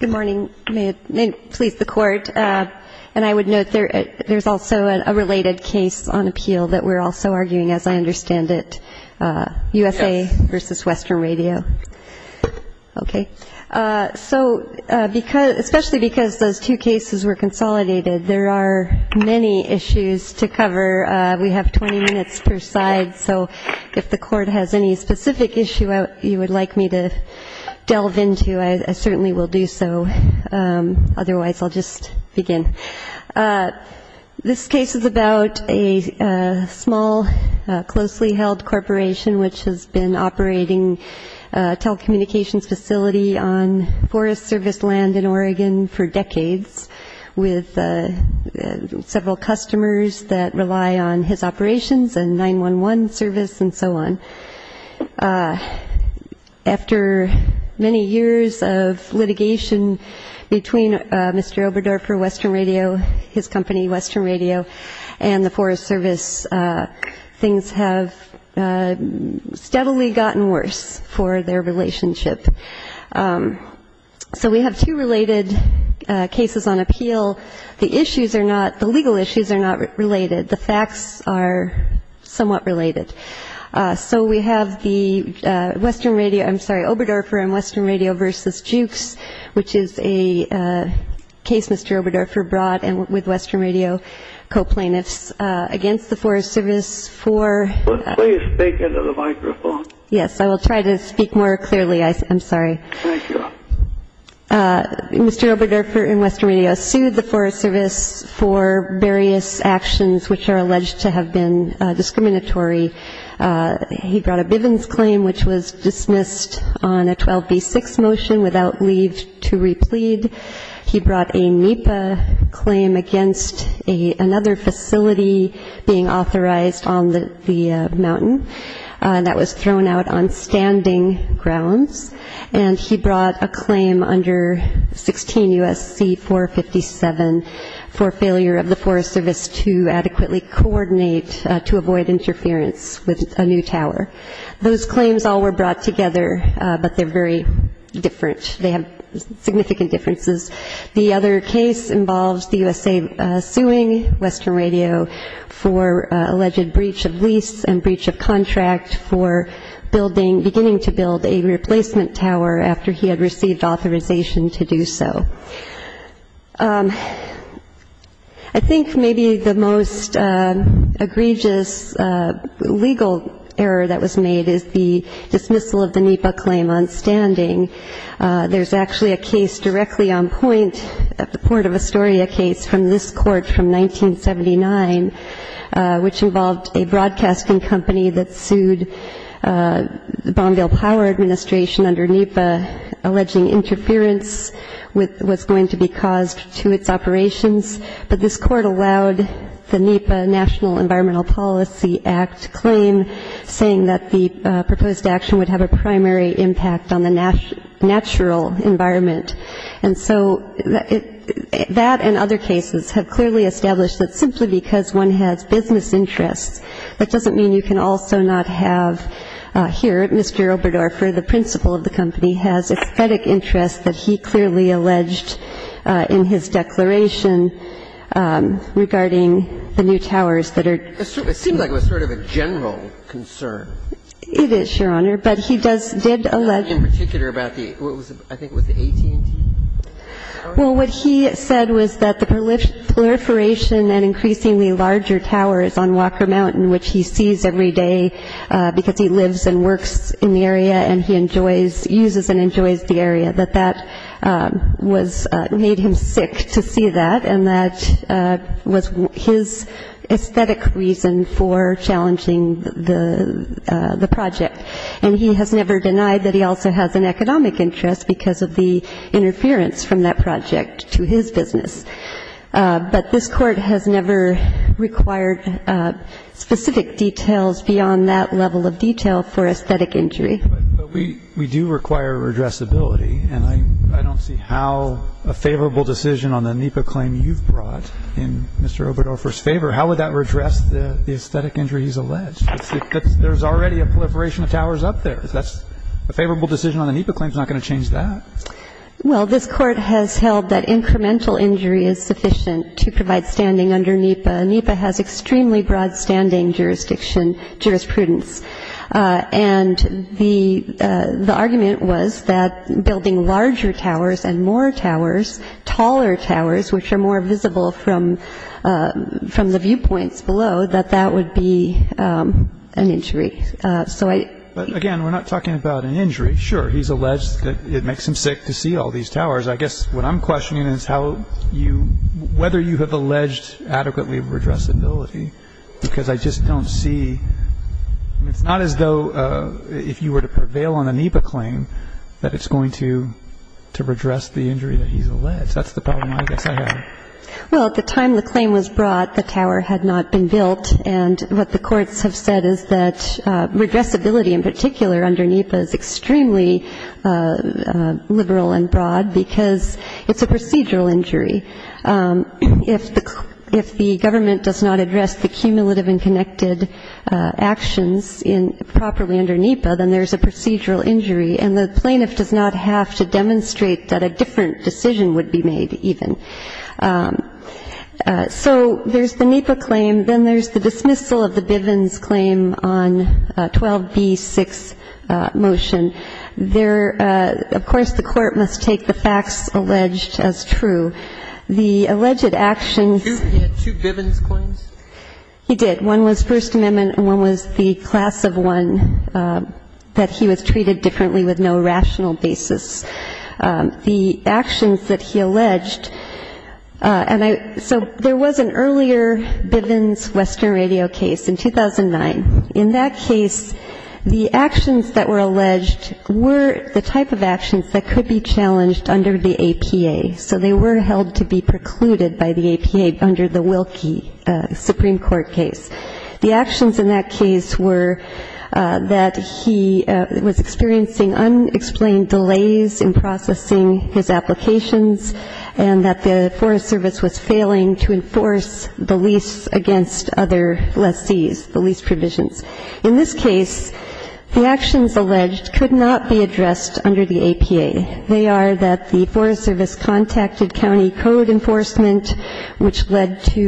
Good morning. May it please the Court, and I would note there's also a related case on appeal that we're also arguing, as I understand it, USA v. Western Radio. Okay. So especially because those two cases were consolidated, there are many issues to cover. We have 20 minutes per side, so if the Court has any specific issue you would like me to delve into, I certainly will do so. Otherwise, I'll just begin. This case is about a small, closely held corporation which has been operating a telecommunications facility on Forest Service land in Oregon for decades, with several customers that rely on his operations and 911 service and so on. After many years of litigation between Mr. Oberdorfer, Western Radio, his company, Western Radio, and the Forest Service, things have steadily gotten worse for their relationship. So we have two related cases on appeal. The issues are not, the legal issues are not related. The facts are somewhat related. So we have the Western Radio, I'm sorry, Oberdorfer and Western Radio v. Jewkes, which is a case Mr. Oberdorfer brought with Western Radio co-plaintiffs against the Forest Service for Please speak into the microphone. Yes, I will try to speak more clearly. I'm sorry. Mr. Oberdorfer and Western Radio sued the Forest Service for various actions which are alleged to have been discriminatory. He brought a Bivens claim which was dismissed on a 12B6 motion without leave to replead. He brought a NEPA claim against another facility being authorized on the mountain that was thrown out on standing grounds. And he brought a claim under 16 U.S.C. 457 for failure of the Forest Service to adequately coordinate to avoid interference with a new tower. Those claims all were brought together, but they're very different. They have significant differences. The other case involves the USA suing Western Radio for alleged breach of lease and breach of contract for beginning to build a replacement tower after he had received authorization to do so. I think maybe the most egregious legal error that was made is the dismissal of the NEPA claim on standing. There's actually a case directly on point at the Port of Astoria case from this court from 1979, which involved a broadcasting company that sued the Bonneville Power Administration under NEPA, alleging interference with what's going to be caused to its operations. But this court allowed the NEPA National Environmental Policy Act claim, saying that the proposed action would have a primary impact on the natural environment. And so that and other cases have clearly established that simply because one has business interests, that doesn't mean you can also not have here Mr. Oberdorfer, the principal of the company, has aesthetic interests that he clearly alleged in his declaration regarding the new towers that are going to be built. So I'm not sure that that's a specific concern. It is, Your Honor. But he does did allege... In particular about the, what was it, I think it was the AT&T tower? Well, what he said was that the proliferation and increasingly larger towers on Walker Mountain, which he sees every day because he lives and works in the area and he enjoys uses and enjoys the area, that that was, made him sick to see that. And that was his aesthetic reason for challenging the project. And he has never denied that he also has an economic interest because of the interference from that project to his business. But this court has never required specific details beyond that level of detail for aesthetic injury. But we do require redressability, and I don't see how a favorable decision on the NEPA claim you've brought in Mr. Oberdofer's favor, how would that redress the aesthetic injuries alleged? There's already a proliferation of towers up there. If that's a favorable decision on the NEPA claim, it's not going to change that. Well, this Court has held that incremental injury is sufficient to provide standing under NEPA. NEPA has extremely broad standing jurisdiction, jurisprudence. And the argument was that building larger towers and more towers, taller towers, which are more visible from the viewpoints below, that that would be an injury. But again, we're not talking about an injury. Sure, he's alleged that it makes him sick to see all these towers. I guess what I'm questioning is how you, whether you have alleged adequately redressability, because I just don't see, it's not as though if you were to prevail on a NEPA claim that that's the problem I guess I have. Well, at the time the claim was brought, the tower had not been built. And what the courts have said is that redressability in particular under NEPA is extremely liberal and broad because it's a procedural injury. If the government does not address the cumulative and connected actions in properly under NEPA, then there's a procedural injury. And the plaintiff does not have to demonstrate that a different decision would be made even. So there's the NEPA claim. Then there's the dismissal of the Bivens claim on 12b-6 motion. There, of course, the court must take the facts alleged as true. The alleged actions. He had two Bivens claims? He did. One was First Amendment and one was the class of one that he was treated differently with no rational basis. The actions that he alleged, and I, so there was an earlier Bivens Western Radio case in 2009. In that case, the actions that were alleged were the type of actions that could be challenged under the APA. So they were held to be precluded by the APA under the Wilkie Supreme Court case. The actions in that case were that he was experiencing unexplained delays in processing his applications and that the Forest Service was failing to enforce the lease against other lessees, the lease provisions. In this case, the actions alleged could not be addressed under the APA. They are that the Forest Service contacted county code enforcement, which led to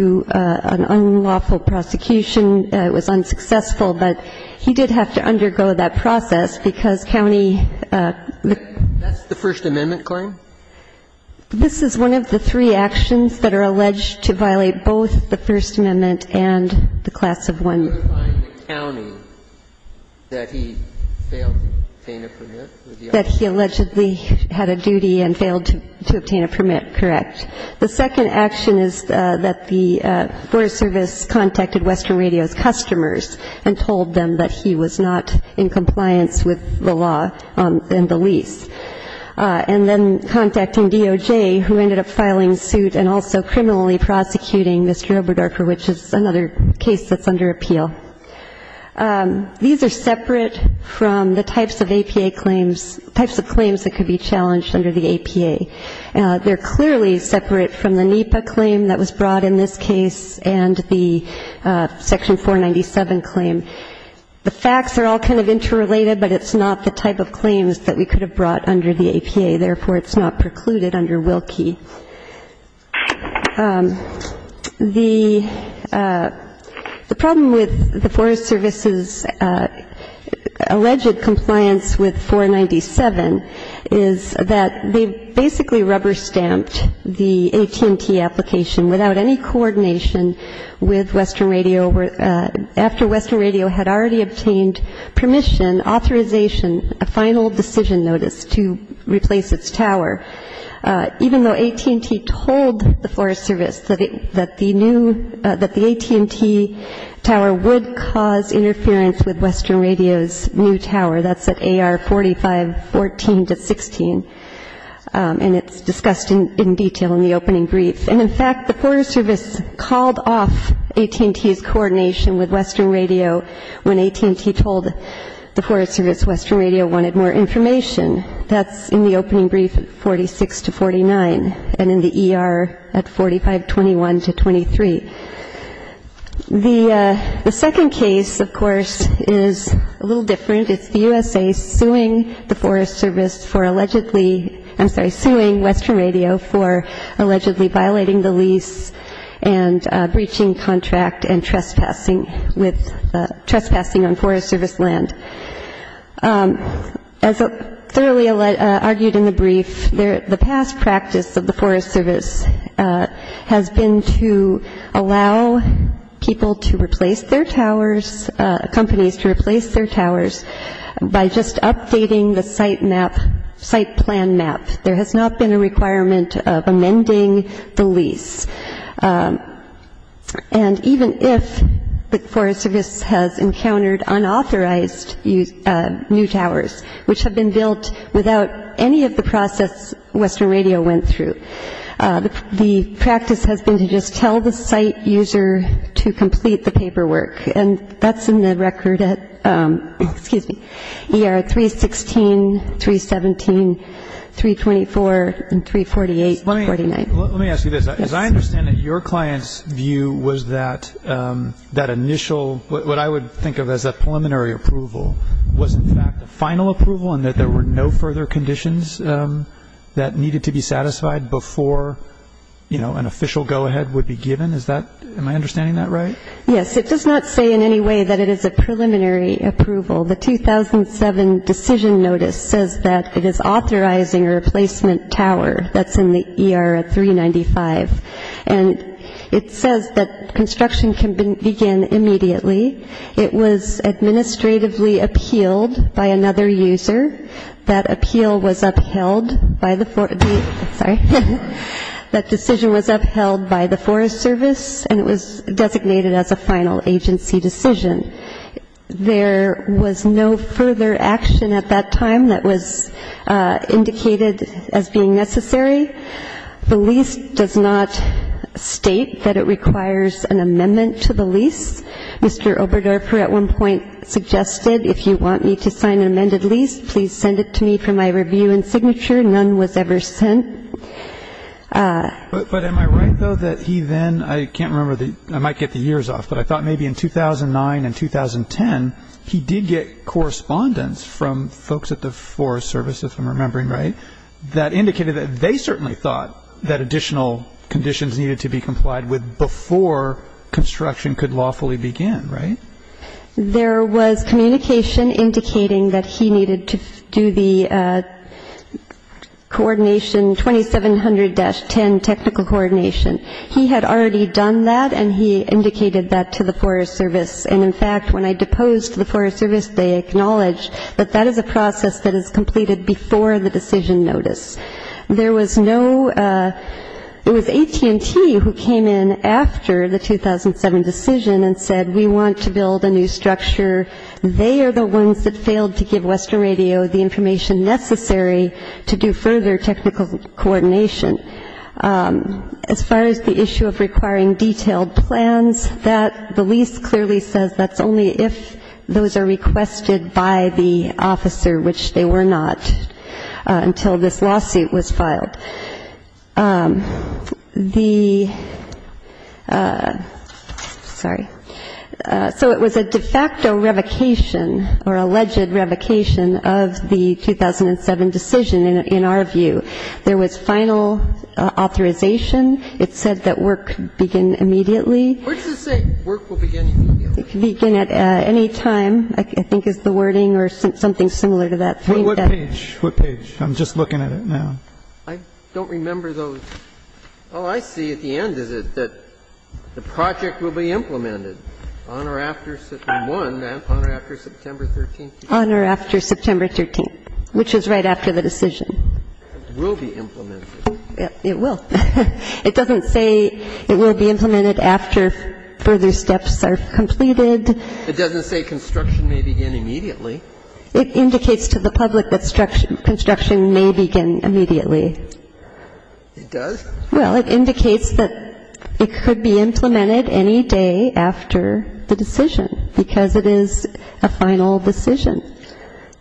an unlawful prosecution. It was unsuccessful, but he did have to undergo that process because county. That's the First Amendment claim? This is one of the three actions that are alleged to violate both the First Amendment and the class of one. The first action is identifying the county that he failed to obtain a permit? That he allegedly had a duty and failed to obtain a permit, correct. The second action is that the Forest Service contacted Western Radio's customers and told them that he was not in compliance with the law and the lease. And then contacting DOJ, who ended up filing suit and also criminally prosecuting Mr. Oberdorfer, which is another case that's under appeal. These are separate from the types of APA claims, types of claims that could be challenged under the APA. They're clearly separate from the NEPA claim that was brought in this case and the Section 497 claim. The facts are all kind of interrelated, but it's not the type of claims that we could have brought under the APA. Therefore, it's not precluded under Willkie. The problem with the Forest Service's alleged compliance with 497 is that they basically rubber-stamped the AT&T application without any coordination with Western Radio after Western Radio had already obtained permission, authorization, a final decision notice to replace its tower. Even though AT&T told the Forest Service that the AT&T tower would cause interference with Western Radio's new tower, that's at AR 4514-16, and it's discussed in detail in the opening brief. And, in fact, the Forest Service called off AT&T's coordination with Western Radio when AT&T told the Forest Service Western Radio wanted more information. That's in the opening brief at 46-49 and in the ER at 4521-23. The second case, of course, is a little different. It's the USA suing the Forest Service for allegedly — I'm sorry, suing Western Radio for allegedly violating the lease and breaching contract and trespassing with — trespassing on Forest Service land. As thoroughly argued in the brief, the past practice of the Forest Service has been to allow people to replace their towers, companies to replace their towers by just updating the site map, site plan map. There has not been a requirement of amending the lease. And even if the Forest Service has encountered unauthorized new towers, which have been built without any of the process Western Radio went through, the practice has been to just tell the site user to complete the paperwork. And that's in the record at — excuse me — ER 316, 317, 324, and 348-49. Let me ask you this. As I understand it, your client's view was that that initial — what I would think of as a preliminary approval was, in fact, a final approval and that there were no further conditions that needed to be satisfied before, you know, an official go-ahead would be given. Is that — am I understanding that right? Yes, it does not say in any way that it is a preliminary approval. The 2007 decision notice says that it is authorizing a replacement tower that's in the ER at 395. And it says that construction can begin immediately. It was administratively appealed by another user. That appeal was upheld by the — sorry. That decision was upheld by the Forest Service, and it was designated as a final agency decision. There was no further action at that time that was indicated as being necessary. The lease does not state that it requires an amendment to the lease. Mr. Oberdorfer at one point suggested, if you want me to sign an amended lease, please send it to me for my review. But am I right, though, that he then — I can't remember the — I might get the years off, but I thought maybe in 2009 and 2010 he did get correspondence from folks at the Forest Service, if I'm remembering right, that indicated that they certainly thought that additional conditions needed to be complied with before construction could lawfully begin, right? There was communication indicating that he needed to do the coordination, 2700-10 technical coordination. He had already done that, and he indicated that to the Forest Service. And, in fact, when I deposed the Forest Service, they acknowledged that that is a process that is completed before the decision notice. There was no — it was AT&T who came in after the 2007 decision and said, we want to build a new structure. They are the ones that failed to give Western Radio the information necessary to do further technical coordination. As far as the issue of requiring detailed plans, that — the lease clearly says that's only if those are requested by the Forest Service. And that's not the case. The lawsuit was filed. The — sorry. So it was a de facto revocation or alleged revocation of the 2007 decision, in our view. There was final authorization. It said that work could begin immediately. It could begin at any time, I think is the wording, or something similar to that. For what page? What page? I'm just looking at it now. I don't remember those. Oh, I see. At the end is it that the project will be implemented on or after September 1, on or after September 13. On or after September 13, which is right after the decision. It will be implemented. It will. It doesn't say it will be implemented after further steps are completed. It doesn't say construction may begin immediately. It indicates to the public that construction may begin immediately. It does? Well, it indicates that it could be implemented any day after the decision, because it is a final decision.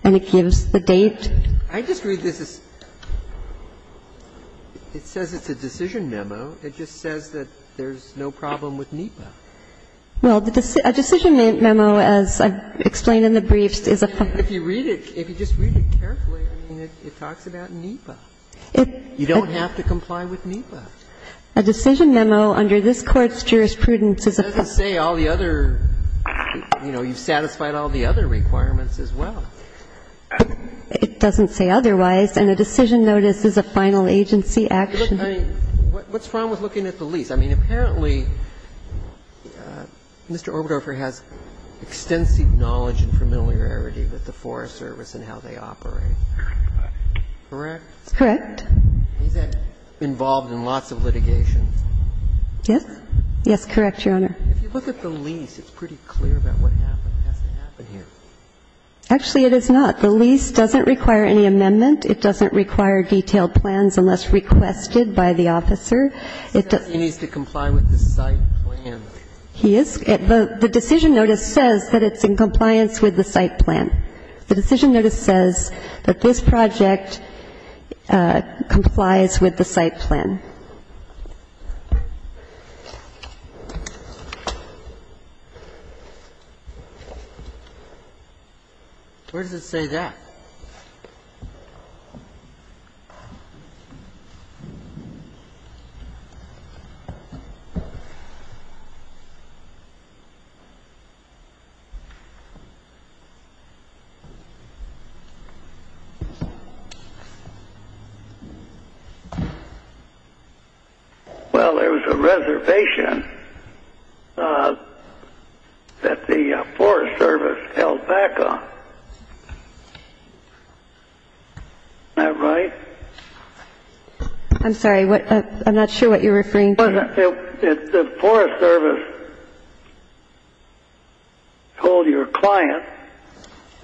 And it gives the date. I just read this as — it says it's a decision memo. It just says that there's no problem with NEPA. Well, a decision memo, as I've explained in the brief, is a — If you read it, if you just read it carefully, I mean, it talks about NEPA. You don't have to comply with NEPA. A decision memo under this Court's jurisprudence is a — It doesn't say all the other — you know, you've satisfied all the other requirements as well. It doesn't say otherwise. And a decision notice is a final agency action. I mean, what's wrong with looking at the lease? I mean, apparently, Mr. Orbedofer has extensive knowledge and familiarity with the Forest Service and how they operate. Correct? Correct. He's involved in lots of litigation. Yes. Yes, correct, Your Honor. If you look at the lease, it's pretty clear about what happened. It has to happen here. Actually, it is not. The lease doesn't require any amendment. It doesn't require detailed plans unless requested by the officer. He needs to comply with the site plan. He is. The decision notice says that it's in compliance with the site plan. The decision notice says that this project complies with the site plan. Where does it say that? Well, there was a reservation that the Forest Service held back on. Am I right? I'm sorry. I'm not sure what you're referring to. The Forest Service told your client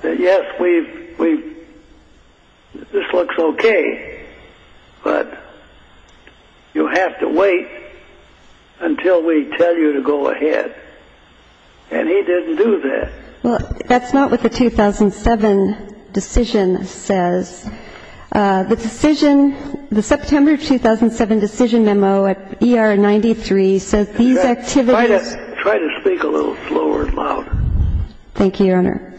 that, yes, this looks okay, but you have to wait until we tell you to go ahead. And he didn't do that. That's not what the 2007 decision says. The decision, the September 2007 decision memo at ER 93 says these activities Try to speak a little slower and louder. Thank you, Your Honor.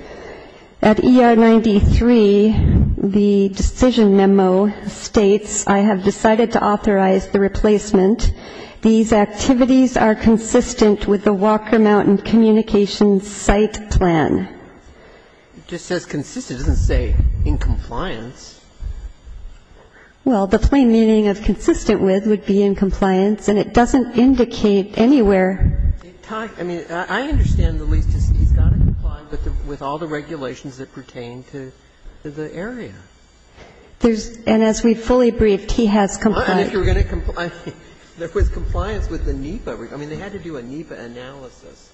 At ER 93, the decision memo states, I have decided to authorize the replacement. These activities are consistent with the Walker Mountain communications site plan. It just says consistent. It doesn't say in compliance. Well, the plain meaning of consistent with would be in compliance, and it doesn't indicate anywhere. I mean, I understand, at least, he's got to comply with all the regulations that pertain to the area. And as we fully briefed, he has complied. And if you're going to comply, there was compliance with the NEPA. I mean, they had to do a NEPA analysis,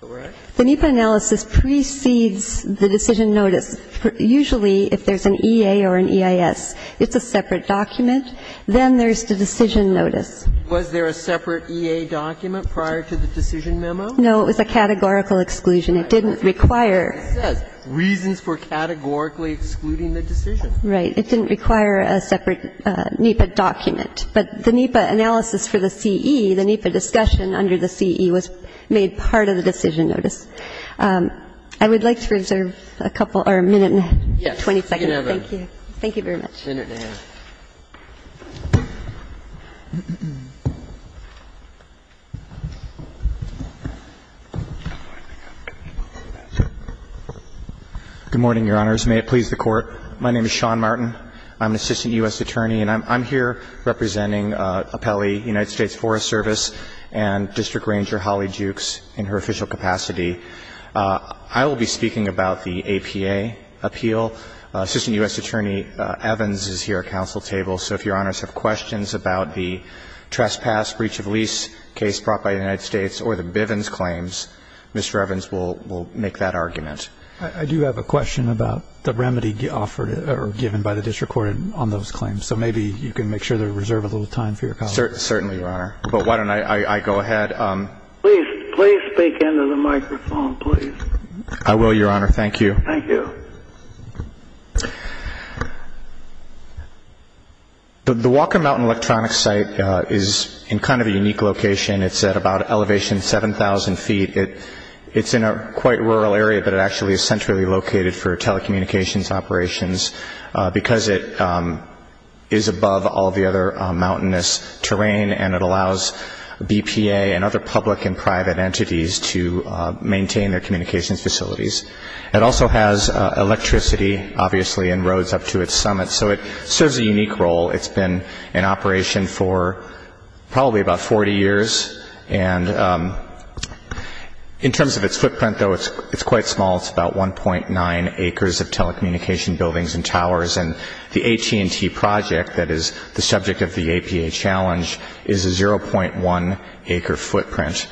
right? The NEPA analysis precedes the decision notice. Usually, if there's an EA or an EIS, it's a separate document. Then there's the decision notice. Was there a separate EA document prior to the decision memo? No, it was a categorical exclusion. It didn't require. It says, reasons for categorically excluding the decision. Right. It didn't require a separate NEPA document. But the NEPA analysis for the CE, the NEPA discussion under the CE was made part of the decision notice. I would like to reserve a couple or a minute and a half, 20 seconds. Thank you. Thank you very much. A minute and a half. Good morning, Your Honors. May it please the Court. My name is Sean Martin. I'm an assistant U.S. attorney, and I'm here representing Appelli, United States Forest Service, and District Ranger Holly Jukes in her official capacity. I will be speaking about the APA appeal. Assistant U.S. attorney Evans is here at council table. So if Your Honors have questions about the trespass breach of lease case brought by the United States or the Bivens claims, Mr. Evans will make that argument. I do have a question about the remedy offered or given by the district court on those claims. So maybe you can make sure to reserve a little time for your colleagues. Certainly, Your Honor. But why don't I go ahead. Please speak into the microphone, please. I will, Your Honor. Thank you. Thank you. The Walker Mountain Electronics Site is in kind of a unique location. It's at about elevation 7,000 feet. It's in a quite rural area, but it actually is centrally located for telecommunications operations because it is above all the other mountainous terrain, and it allows BPA and other public and private entities to maintain their communications facilities. It also has electricity, obviously, and roads up to its summit. So it serves a unique role. It's been in operation for probably about 40 years. And in terms of its footprint, though, it's quite small. It's about 1.9 acres of telecommunication buildings and towers, and the AT&T project that is the subject of the APA challenge is a 0.1-acre footprint.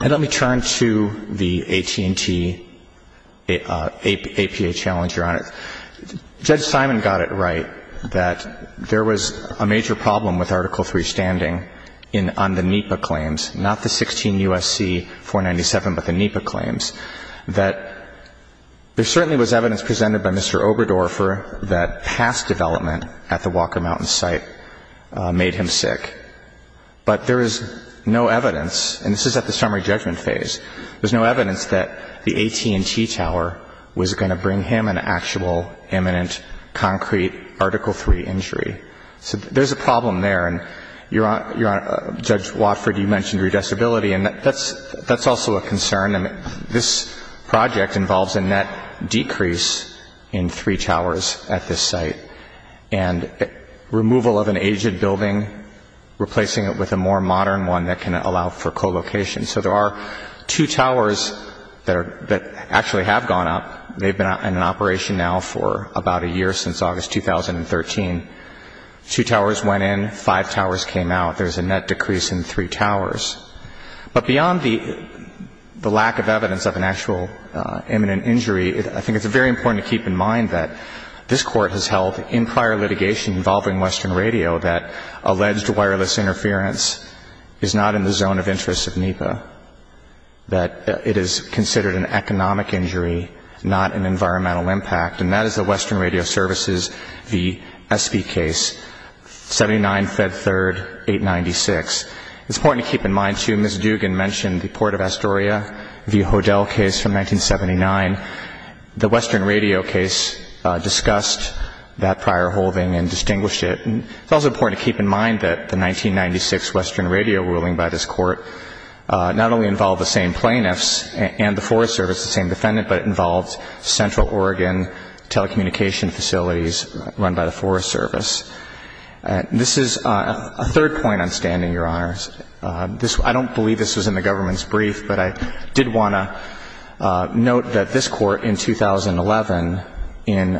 And let me turn to the AT&T APA challenge, Your Honor. Judge Simon got it right that there was a major problem with Article III standing on the NEPA claims, not the 16 U.S.C. 497, but the NEPA claims. That there certainly was evidence presented by Mr. Oberdorfer that past development at the Walker Mountain site made him sick. But there is no evidence, and this is at the summary judgment phase, there's no evidence that the AT&T tower was going to bring him an actual, imminent, concrete Article III injury. So there's a problem there, and, Your Honor, Judge Watford, you mentioned redressability, and that's also a concern. This project involves a net decrease in three towers at this site, and removal of an aged building, replacing it with a more modern one that can allow for co-location. So there are two towers that actually have gone up. They've been in operation now for about a year, since August 2013. Two towers went in, five towers came out. There's a net decrease in three towers. But beyond the lack of evidence of an actual imminent injury, I think it's very important to keep in mind that this Court has held in prior litigation involving Western Radio that alleged wireless interference is not in the zone of interest of NEPA, that it is considered an economic injury, not an environmental impact, and that is the Western Radio Services v. SB case, 79 Fed 3rd, 896. It's important to keep in mind, too, Ms. Dugan mentioned the Port of Astoria v. Hodel case from 1979. The Western Radio case discussed that prior holding and distinguished it. It's also important to keep in mind that the 1996 Western Radio ruling by this Court not only involved the same defendant, but it involved Central Oregon telecommunication facilities run by the Forest Service. This is a third point on standing, Your Honors. I don't believe this was in the government's brief, but I did want to note that this Court in 2011, in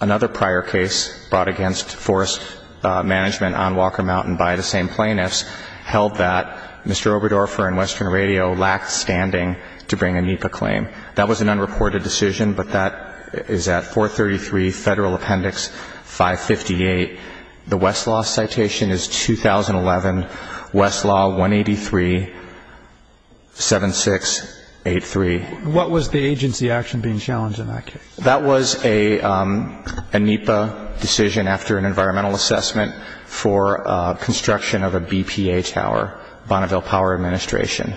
another prior case brought against Forest Management on Walker Mountain by the same plaintiffs, held that Mr. Oberdorfer and Western Radio lacked standing to bring a NEPA claim. That was an unreported decision, but that is at 433 Federal Appendix 558. The Westlaw citation is 2011, Westlaw 183-7683. What was the agency action being challenged in that case? That was a NEPA decision after an environmental assessment for construction of a BPA tower, Bonneville Power Administration.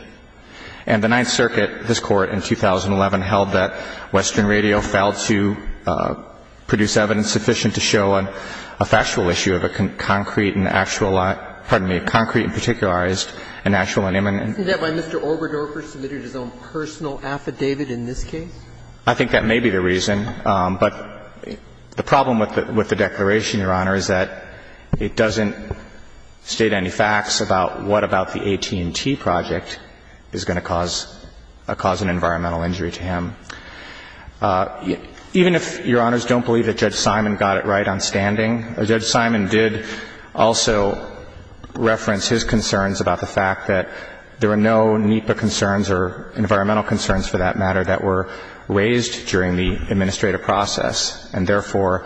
And the Ninth Circuit, this Court in 2011, held that Western Radio failed to produce evidence sufficient to show a factual issue of a concrete and actualized – pardon me, a concrete and particularized and actual and imminent. Isn't that why Mr. Oberdorfer submitted his own personal affidavit in this case? I think that may be the reason. But the problem with the declaration, Your Honor, is that it doesn't state any facts about what about the AT&T project is going to cause an environmental injury to him. Even if Your Honors don't believe that Judge Simon got it right on standing, Judge Simon did also reference his concerns about the fact that there were no NEPA concerns or environmental concerns, for that matter, that were raised during the administrative process, and therefore,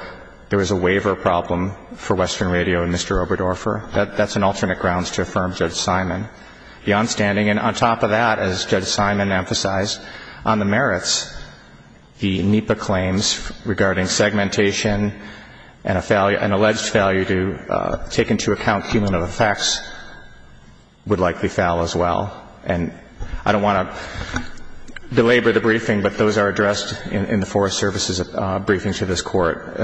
there was a waiver problem for Western Radio and Mr. Oberdorfer. That's an alternate grounds to affirm Judge Simon beyond standing. And on top of that, as Judge Simon emphasized, on the merits, the NEPA claims regarding segmentation and an alleged failure to take into account cumulative effects would likely fail as well. And I don't want to belabor the briefing, but those are addressed in the Forest Service's briefing to this Court.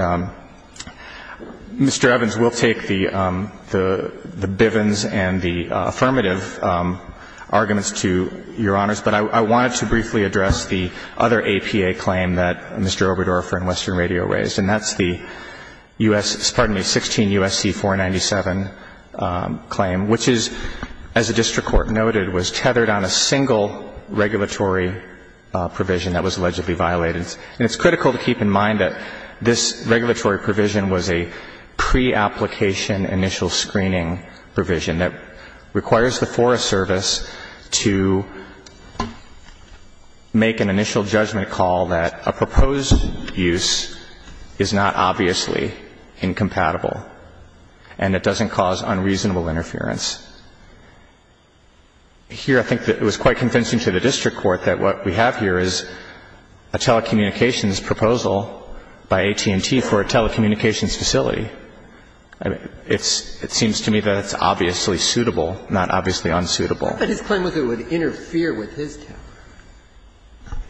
Mr. Evans, we'll take the Bivens and the affirmative arguments to Your Honors, but I wanted to briefly address the other APA claim that Mr. Oberdorfer and Western Radio raised, and that's the U.S. pardon me, 16 U.S.C. 497 claim, which is, as the district court noted, was tethered on a single regulatory provision that was allegedly violated. And it's critical to keep in mind that this regulatory provision was a pre-application initial screening provision that requires the Forest Service to make an initial judgment call that a proposed use is not obviously incompatible and it doesn't cause unreasonable interference. Here, I think that it was quite convincing to the district court that what we have here is a telecommunications proposal by AT&T for a telecommunications facility. It seems to me that it's obviously suitable, not obviously unsuitable. But his claim was it would interfere with his tele.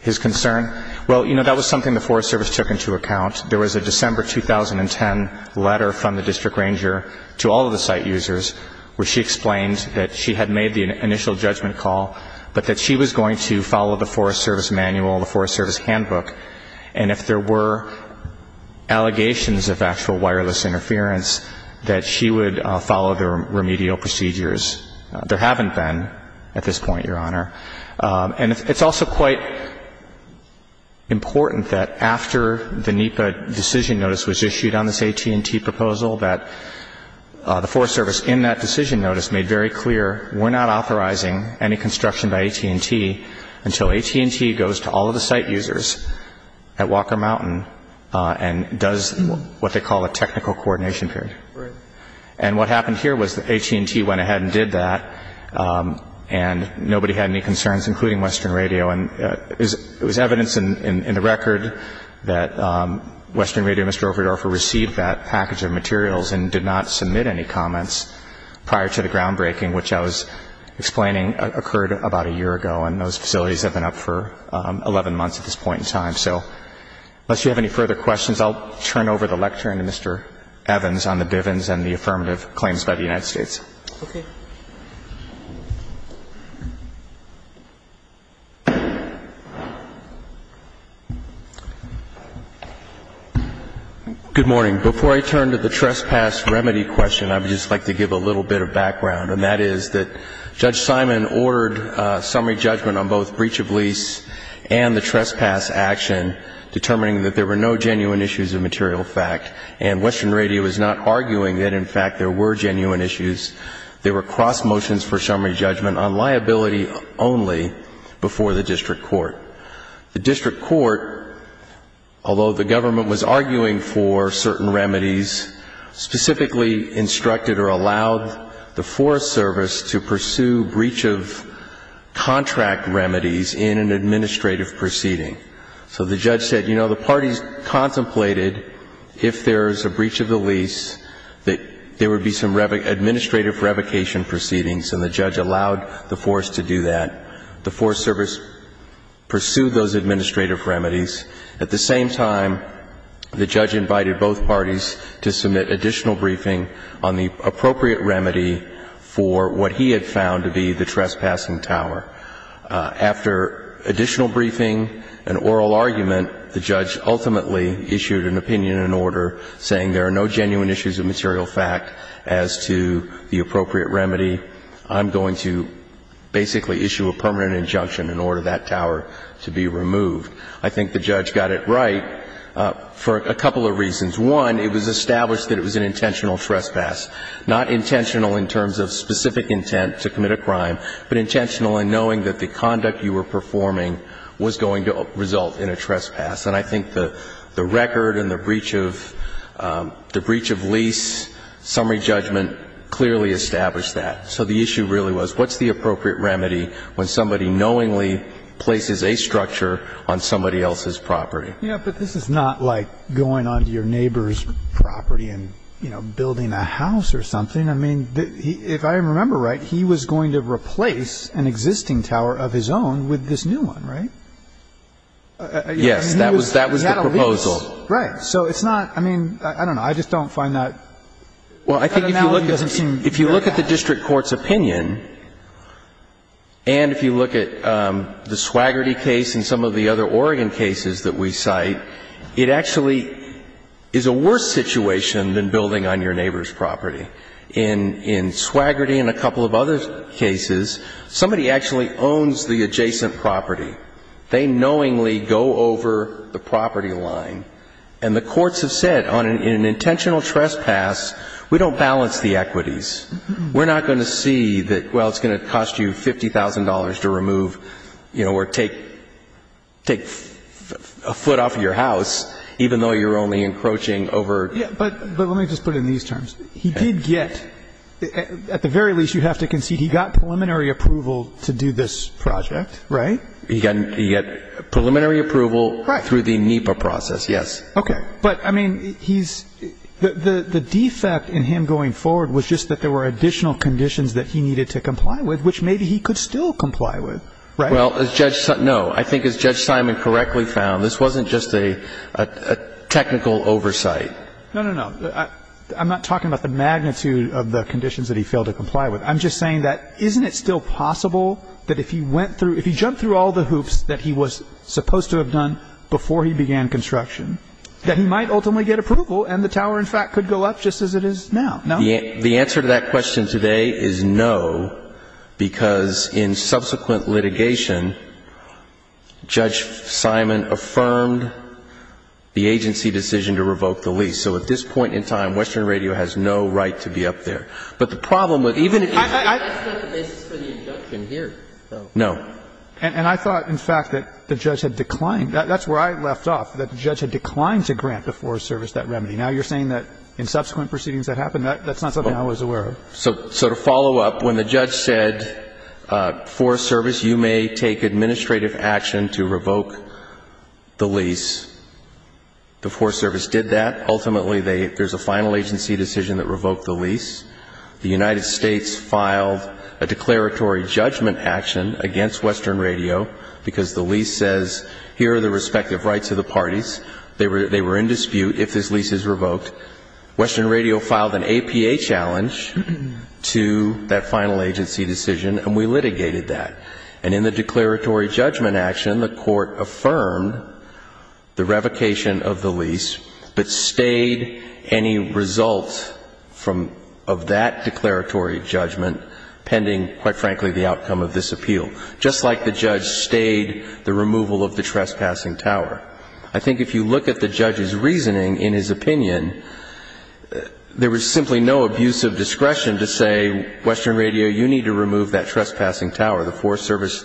His concern? Well, you know, that was something the Forest Service took into account. There was a December 2010 letter from the district ranger to all of the site users where she explained that she had made the initial judgment call, but that she was going to follow the Forest Service manual, the Forest Service handbook. And if there were allegations of actual wireless interference, that she would follow the remedial procedures. There haven't been at this point, Your Honor. And it's also quite important that after the NEPA decision notice was issued on this AT&T proposal, that the Forest Service in that decision notice made very clear, we're not authorizing any construction by AT&T until AT&T goes to all of the site users at Walker Mountain and does what they call a technical coordination period. Right. And what happened here was AT&T went ahead and did that, and nobody had any concerns, including Western Radio. And it was evidence in the record that Western Radio and Mr. Overdorfer received that package of materials and did not submit any comments prior to the groundbreaking, which I was explaining occurred about a year ago. And those facilities have been up for 11 months at this point in time. So unless you have any further questions, I'll turn over the lecture to Mr. Evans on the Bivens and the affirmative claims by the United States. Okay. Good morning. Before I turn to the trespass remedy question, I would just like to give a little bit of background on what that is, that Judge Simon ordered summary judgment on both breach of lease and the trespass action, determining that there were no genuine issues of material fact, and Western Radio is not arguing that, in fact, there were genuine issues. There were cross motions for summary judgment on liability only before the district court. The district court, although the government was arguing for certain remedies, specifically instructed or allowed the Forest Service to pursue breach of contract remedies in an administrative proceeding. So the judge said, you know, the parties contemplated if there is a breach of the lease that there would be some administrative revocation proceedings, and the judge allowed the Forest to do that. The Forest Service pursued those administrative remedies. At the same time, the judge invited both parties to submit additional briefing on the appropriate remedy for what he had found to be the trespassing tower. After additional briefing and oral argument, the judge ultimately issued an opinion in order, saying there are no genuine issues of material fact as to the appropriate remedy. I'm going to basically issue a permanent injunction in order that tower to be removed. I think the judge got it right for a couple of reasons. One, it was established that it was an intentional trespass. Not intentional in terms of specific intent to commit a crime, but intentional in knowing that the conduct you were performing was going to result in a trespass. And I think the record and the breach of lease summary judgment clearly established that. So the issue really was what's the appropriate remedy when somebody knowingly places a structure on somebody else's property? Yeah, but this is not like going onto your neighbor's property and, you know, building a house or something. I mean, if I remember right, he was going to replace an existing tower of his own with this new one, right? Yes. That was the proposal. He had a lease. Right. So it's not – I mean, I don't know. I just don't find that analogy doesn't seem right. And if you look at the Swaggerty case and some of the other Oregon cases that we cite, it actually is a worse situation than building on your neighbor's property. In Swaggerty and a couple of other cases, somebody actually owns the adjacent property. They knowingly go over the property line. And the courts have said, in an intentional trespass, we don't balance the equities. We're not going to see that, well, it's going to cost you $50,000 to remove, you know, or take a foot off of your house, even though you're only encroaching over. Yeah, but let me just put it in these terms. He did get – at the very least, you have to concede he got preliminary approval to do this project, right? He got preliminary approval through the NEPA process, yes. Okay. But, I mean, he's – the defect in him going forward was just that there were additional conditions that he needed to comply with, which maybe he could still comply with, right? Well, as Judge – no. I think as Judge Simon correctly found, this wasn't just a technical oversight. No, no, no. I'm not talking about the magnitude of the conditions that he failed to comply with. I'm just saying that isn't it still possible that if he went through – if he jumped through all the hoops that he was supposed to have done before he began construction, that he might ultimately get approval and the tower, in fact, could go up just as it is now, no? The answer to that question today is no, because in subsequent litigation, Judge Simon affirmed the agency decision to revoke the lease. So at this point in time, Western Radio has no right to be up there. But the problem with – even if you – That's not the basis for the injunction here, though. No. And I thought, in fact, that the judge had declined – that's where I left off, that the judge had declined to grant the Forest Service that remedy. Now you're saying that in subsequent proceedings that happened? That's not something I was aware of. So to follow up, when the judge said, Forest Service, you may take administrative action to revoke the lease, the Forest Service did that. The United States filed a declaratory judgment action against Western Radio because the lease says here are the respective rights of the parties. They were in dispute if this lease is revoked. Western Radio filed an APA challenge to that final agency decision, and we litigated that. And in the declaratory judgment action, the Court affirmed the revocation of the lease but stayed any result of that declaratory judgment pending, quite frankly, the outcome of this appeal, just like the judge stayed the removal of the trespassing tower. I think if you look at the judge's reasoning in his opinion, there was simply no abuse of discretion to say, Western Radio, you need to remove that trespassing tower. The Forest Service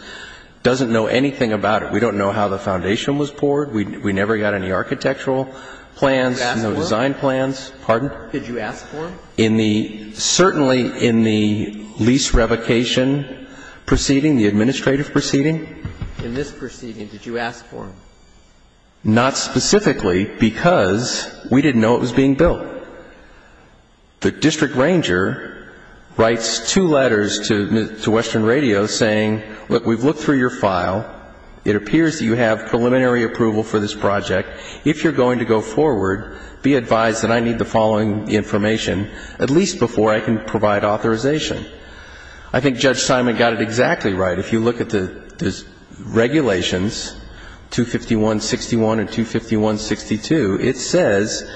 doesn't know anything about it. We don't know how the foundation was poured. We never got any architectural plans, no design plans. Did you ask for them? Pardon? Did you ask for them? Certainly in the lease revocation proceeding, the administrative proceeding. In this proceeding, did you ask for them? Not specifically because we didn't know it was being built. The district ranger writes two letters to Western Radio saying, look, we've looked through your file. It appears that you have preliminary approval for this project. If you're going to go forward, be advised that I need the following information at least before I can provide authorization. I think Judge Simon got it exactly right. If you look at the regulations, 251.61 and 251.62, it says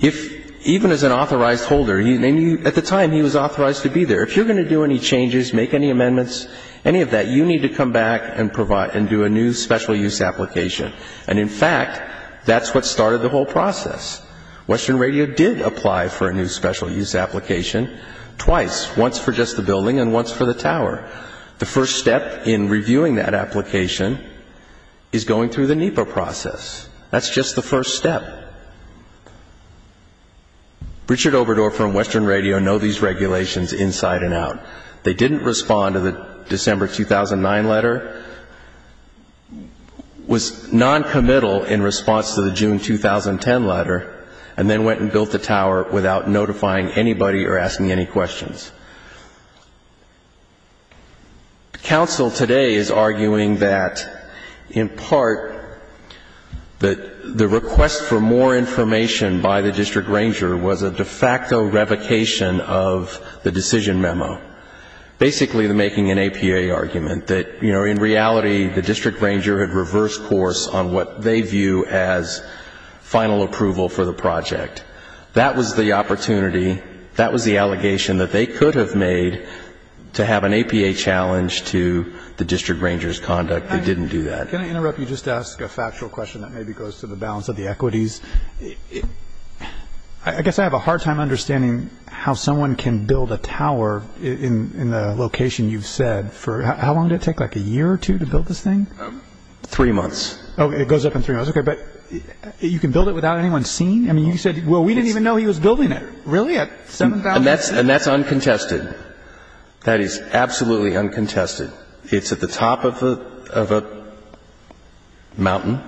if even as an authorized holder, at the time he was authorized to be there, if you're going to do any changes, make any amendments, any of that, you need to come back and do a new special use application. And, in fact, that's what started the whole process. Western Radio did apply for a new special use application twice, once for just the building and once for the tower. The first step in reviewing that application is going through the NEPA process. That's just the first step. Richard Obrador from Western Radio know these regulations inside and out. They didn't respond to the December 2009 letter, was noncommittal in response to the June 2010 letter, and then went and built the tower without notifying anybody or asking any questions. Counsel today is arguing that, in part, the request for more information by the district ranger was a de facto revocation of the decision memo, basically making an APA argument that, you know, in reality the district ranger had reversed course on what they view as final approval for the project. That was the opportunity. That was the allegation that they could have made to have an APA challenge to the district ranger's conduct. They didn't do that. Can I interrupt you just to ask a factual question that maybe goes to the balance of the equities? I guess I have a hard time understanding how someone can build a tower in the location you've said. How long did it take, like, a year or two to build this thing? Three months. Oh, it goes up in three months. Okay, but you can build it without anyone seeing? I mean, you said, well, we didn't even know he was building it. Really? At 7,000 feet? And that's uncontested. That is absolutely uncontested. It's at the top of a mountain.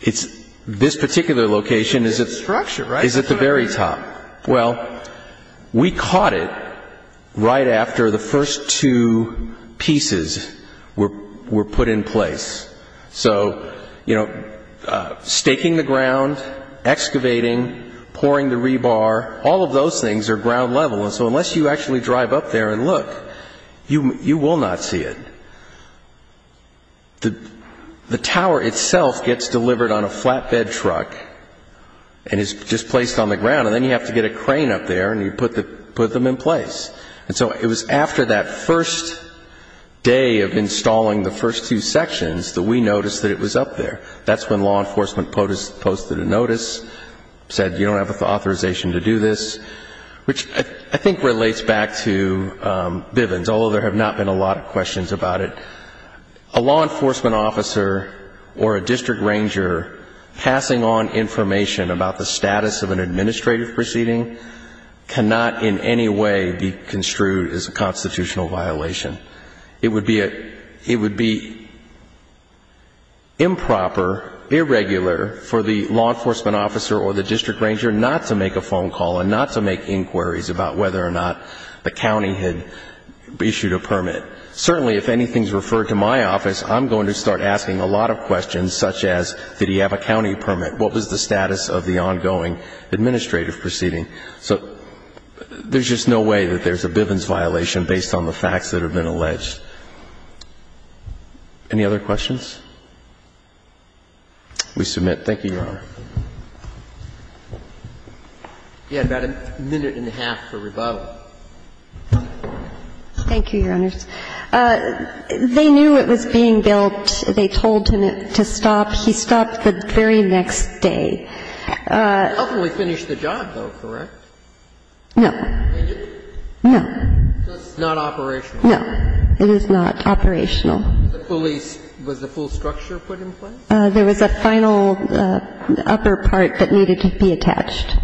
It's this particular location is at the very top. Well, we caught it right after the first two pieces were put in place. So, you know, staking the ground, excavating, pouring the rebar, all of those things are ground level. And so unless you actually drive up there and look, you will not see it. The tower itself gets delivered on a flatbed truck and is just placed on the ground, and then you have to get a crane up there and you put them in place. And so it was after that first day of installing the first two sections that we noticed that it was up there. That's when law enforcement posted a notice, said you don't have authorization to do this, which I think relates back to Bivens, although there have not been a lot of questions about it. A law enforcement officer or a district ranger passing on information about the status of an administrative proceeding cannot in any way be construed as a constitutional violation. It would be improper, irregular for the law enforcement officer or the district ranger not to make a phone call and not to make inquiries about whether or not the county had issued a permit. Certainly if anything is referred to my office, I'm going to start asking a lot of questions, such as did he have a county permit? What was the status of the ongoing administrative proceeding? So there's just no way that there's a Bivens violation based on the facts that have been alleged. Any other questions? We submit. Thank you, Your Honor. You had about a minute and a half for rebuttal. Thank you, Your Honors. Yes. They knew it was being built. They told him to stop. He stopped the very next day. He ultimately finished the job, though, correct? No. He didn't? No. So it's not operational? No, it is not operational. Was the police – was the full structure put in place? There was a final upper part that needed to be attached.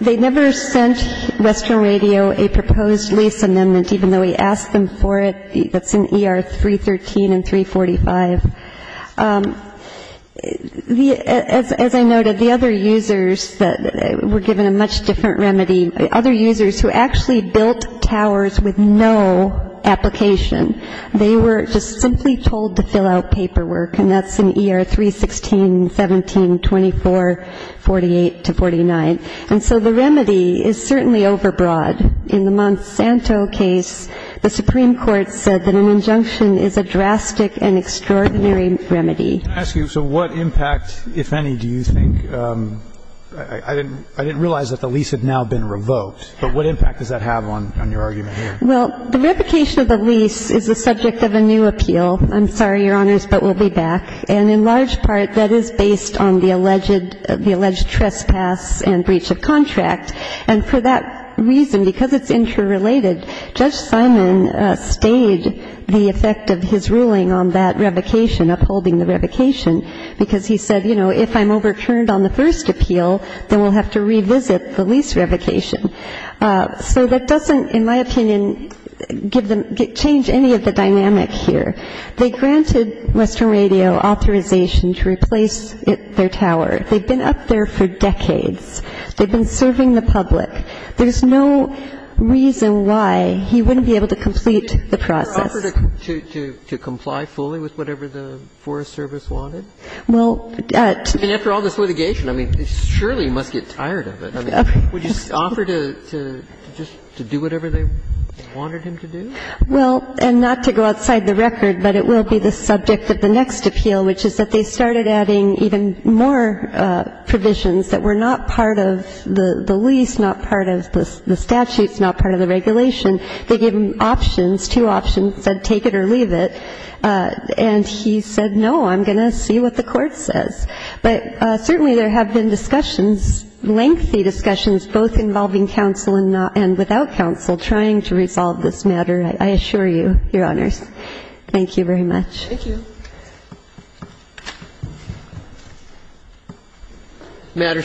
They never sent Western Radio a proposed lease amendment, even though we asked them for it. That's in ER 313 and 345. As I noted, the other users were given a much different remedy. Other users who actually built towers with no application, they were just simply told to fill out paperwork, and that's in ER 316, 17, 24, 48 to 49. And so the remedy is certainly overbroad. In the Monsanto case, the Supreme Court said that an injunction is a drastic and extraordinary remedy. Can I ask you, so what impact, if any, do you think – I didn't realize that the lease had now been revoked, but what impact does that have on your argument here? Well, the revocation of the lease is the subject of a new appeal. I'm sorry, Your Honors, but we'll be back. And in large part, that is based on the alleged – the alleged trespass and breach of contract. And for that reason, because it's interrelated, Judge Simon stayed the effect of his ruling on that revocation, upholding the revocation, because he said, you know, if I'm overturned on the first appeal, then we'll have to revisit the lease revocation. So that doesn't, in my opinion, give them – change any of the dynamic here. They granted Western Radio authorization to replace their tower. They've been up there for decades. They've been serving the public. There's no reason why he wouldn't be able to complete the process. To comply fully with whatever the Forest Service wanted? Well, to – And after all this litigation, I mean, surely he must get tired of it. Would you offer to just do whatever they wanted him to do? Well, and not to go outside the record, but it will be the subject of the next appeal, which is that they started adding even more provisions that were not part of the lease, not part of the statutes, not part of the regulation. They gave him options, two options, said take it or leave it. And he said, no, I'm going to see what the court says. But certainly there have been discussions, lengthy discussions, both involving counsel and not – and without counsel trying to resolve this matter, I assure you, Your Honors. Thank you very much. Thank you. The matter is submitted.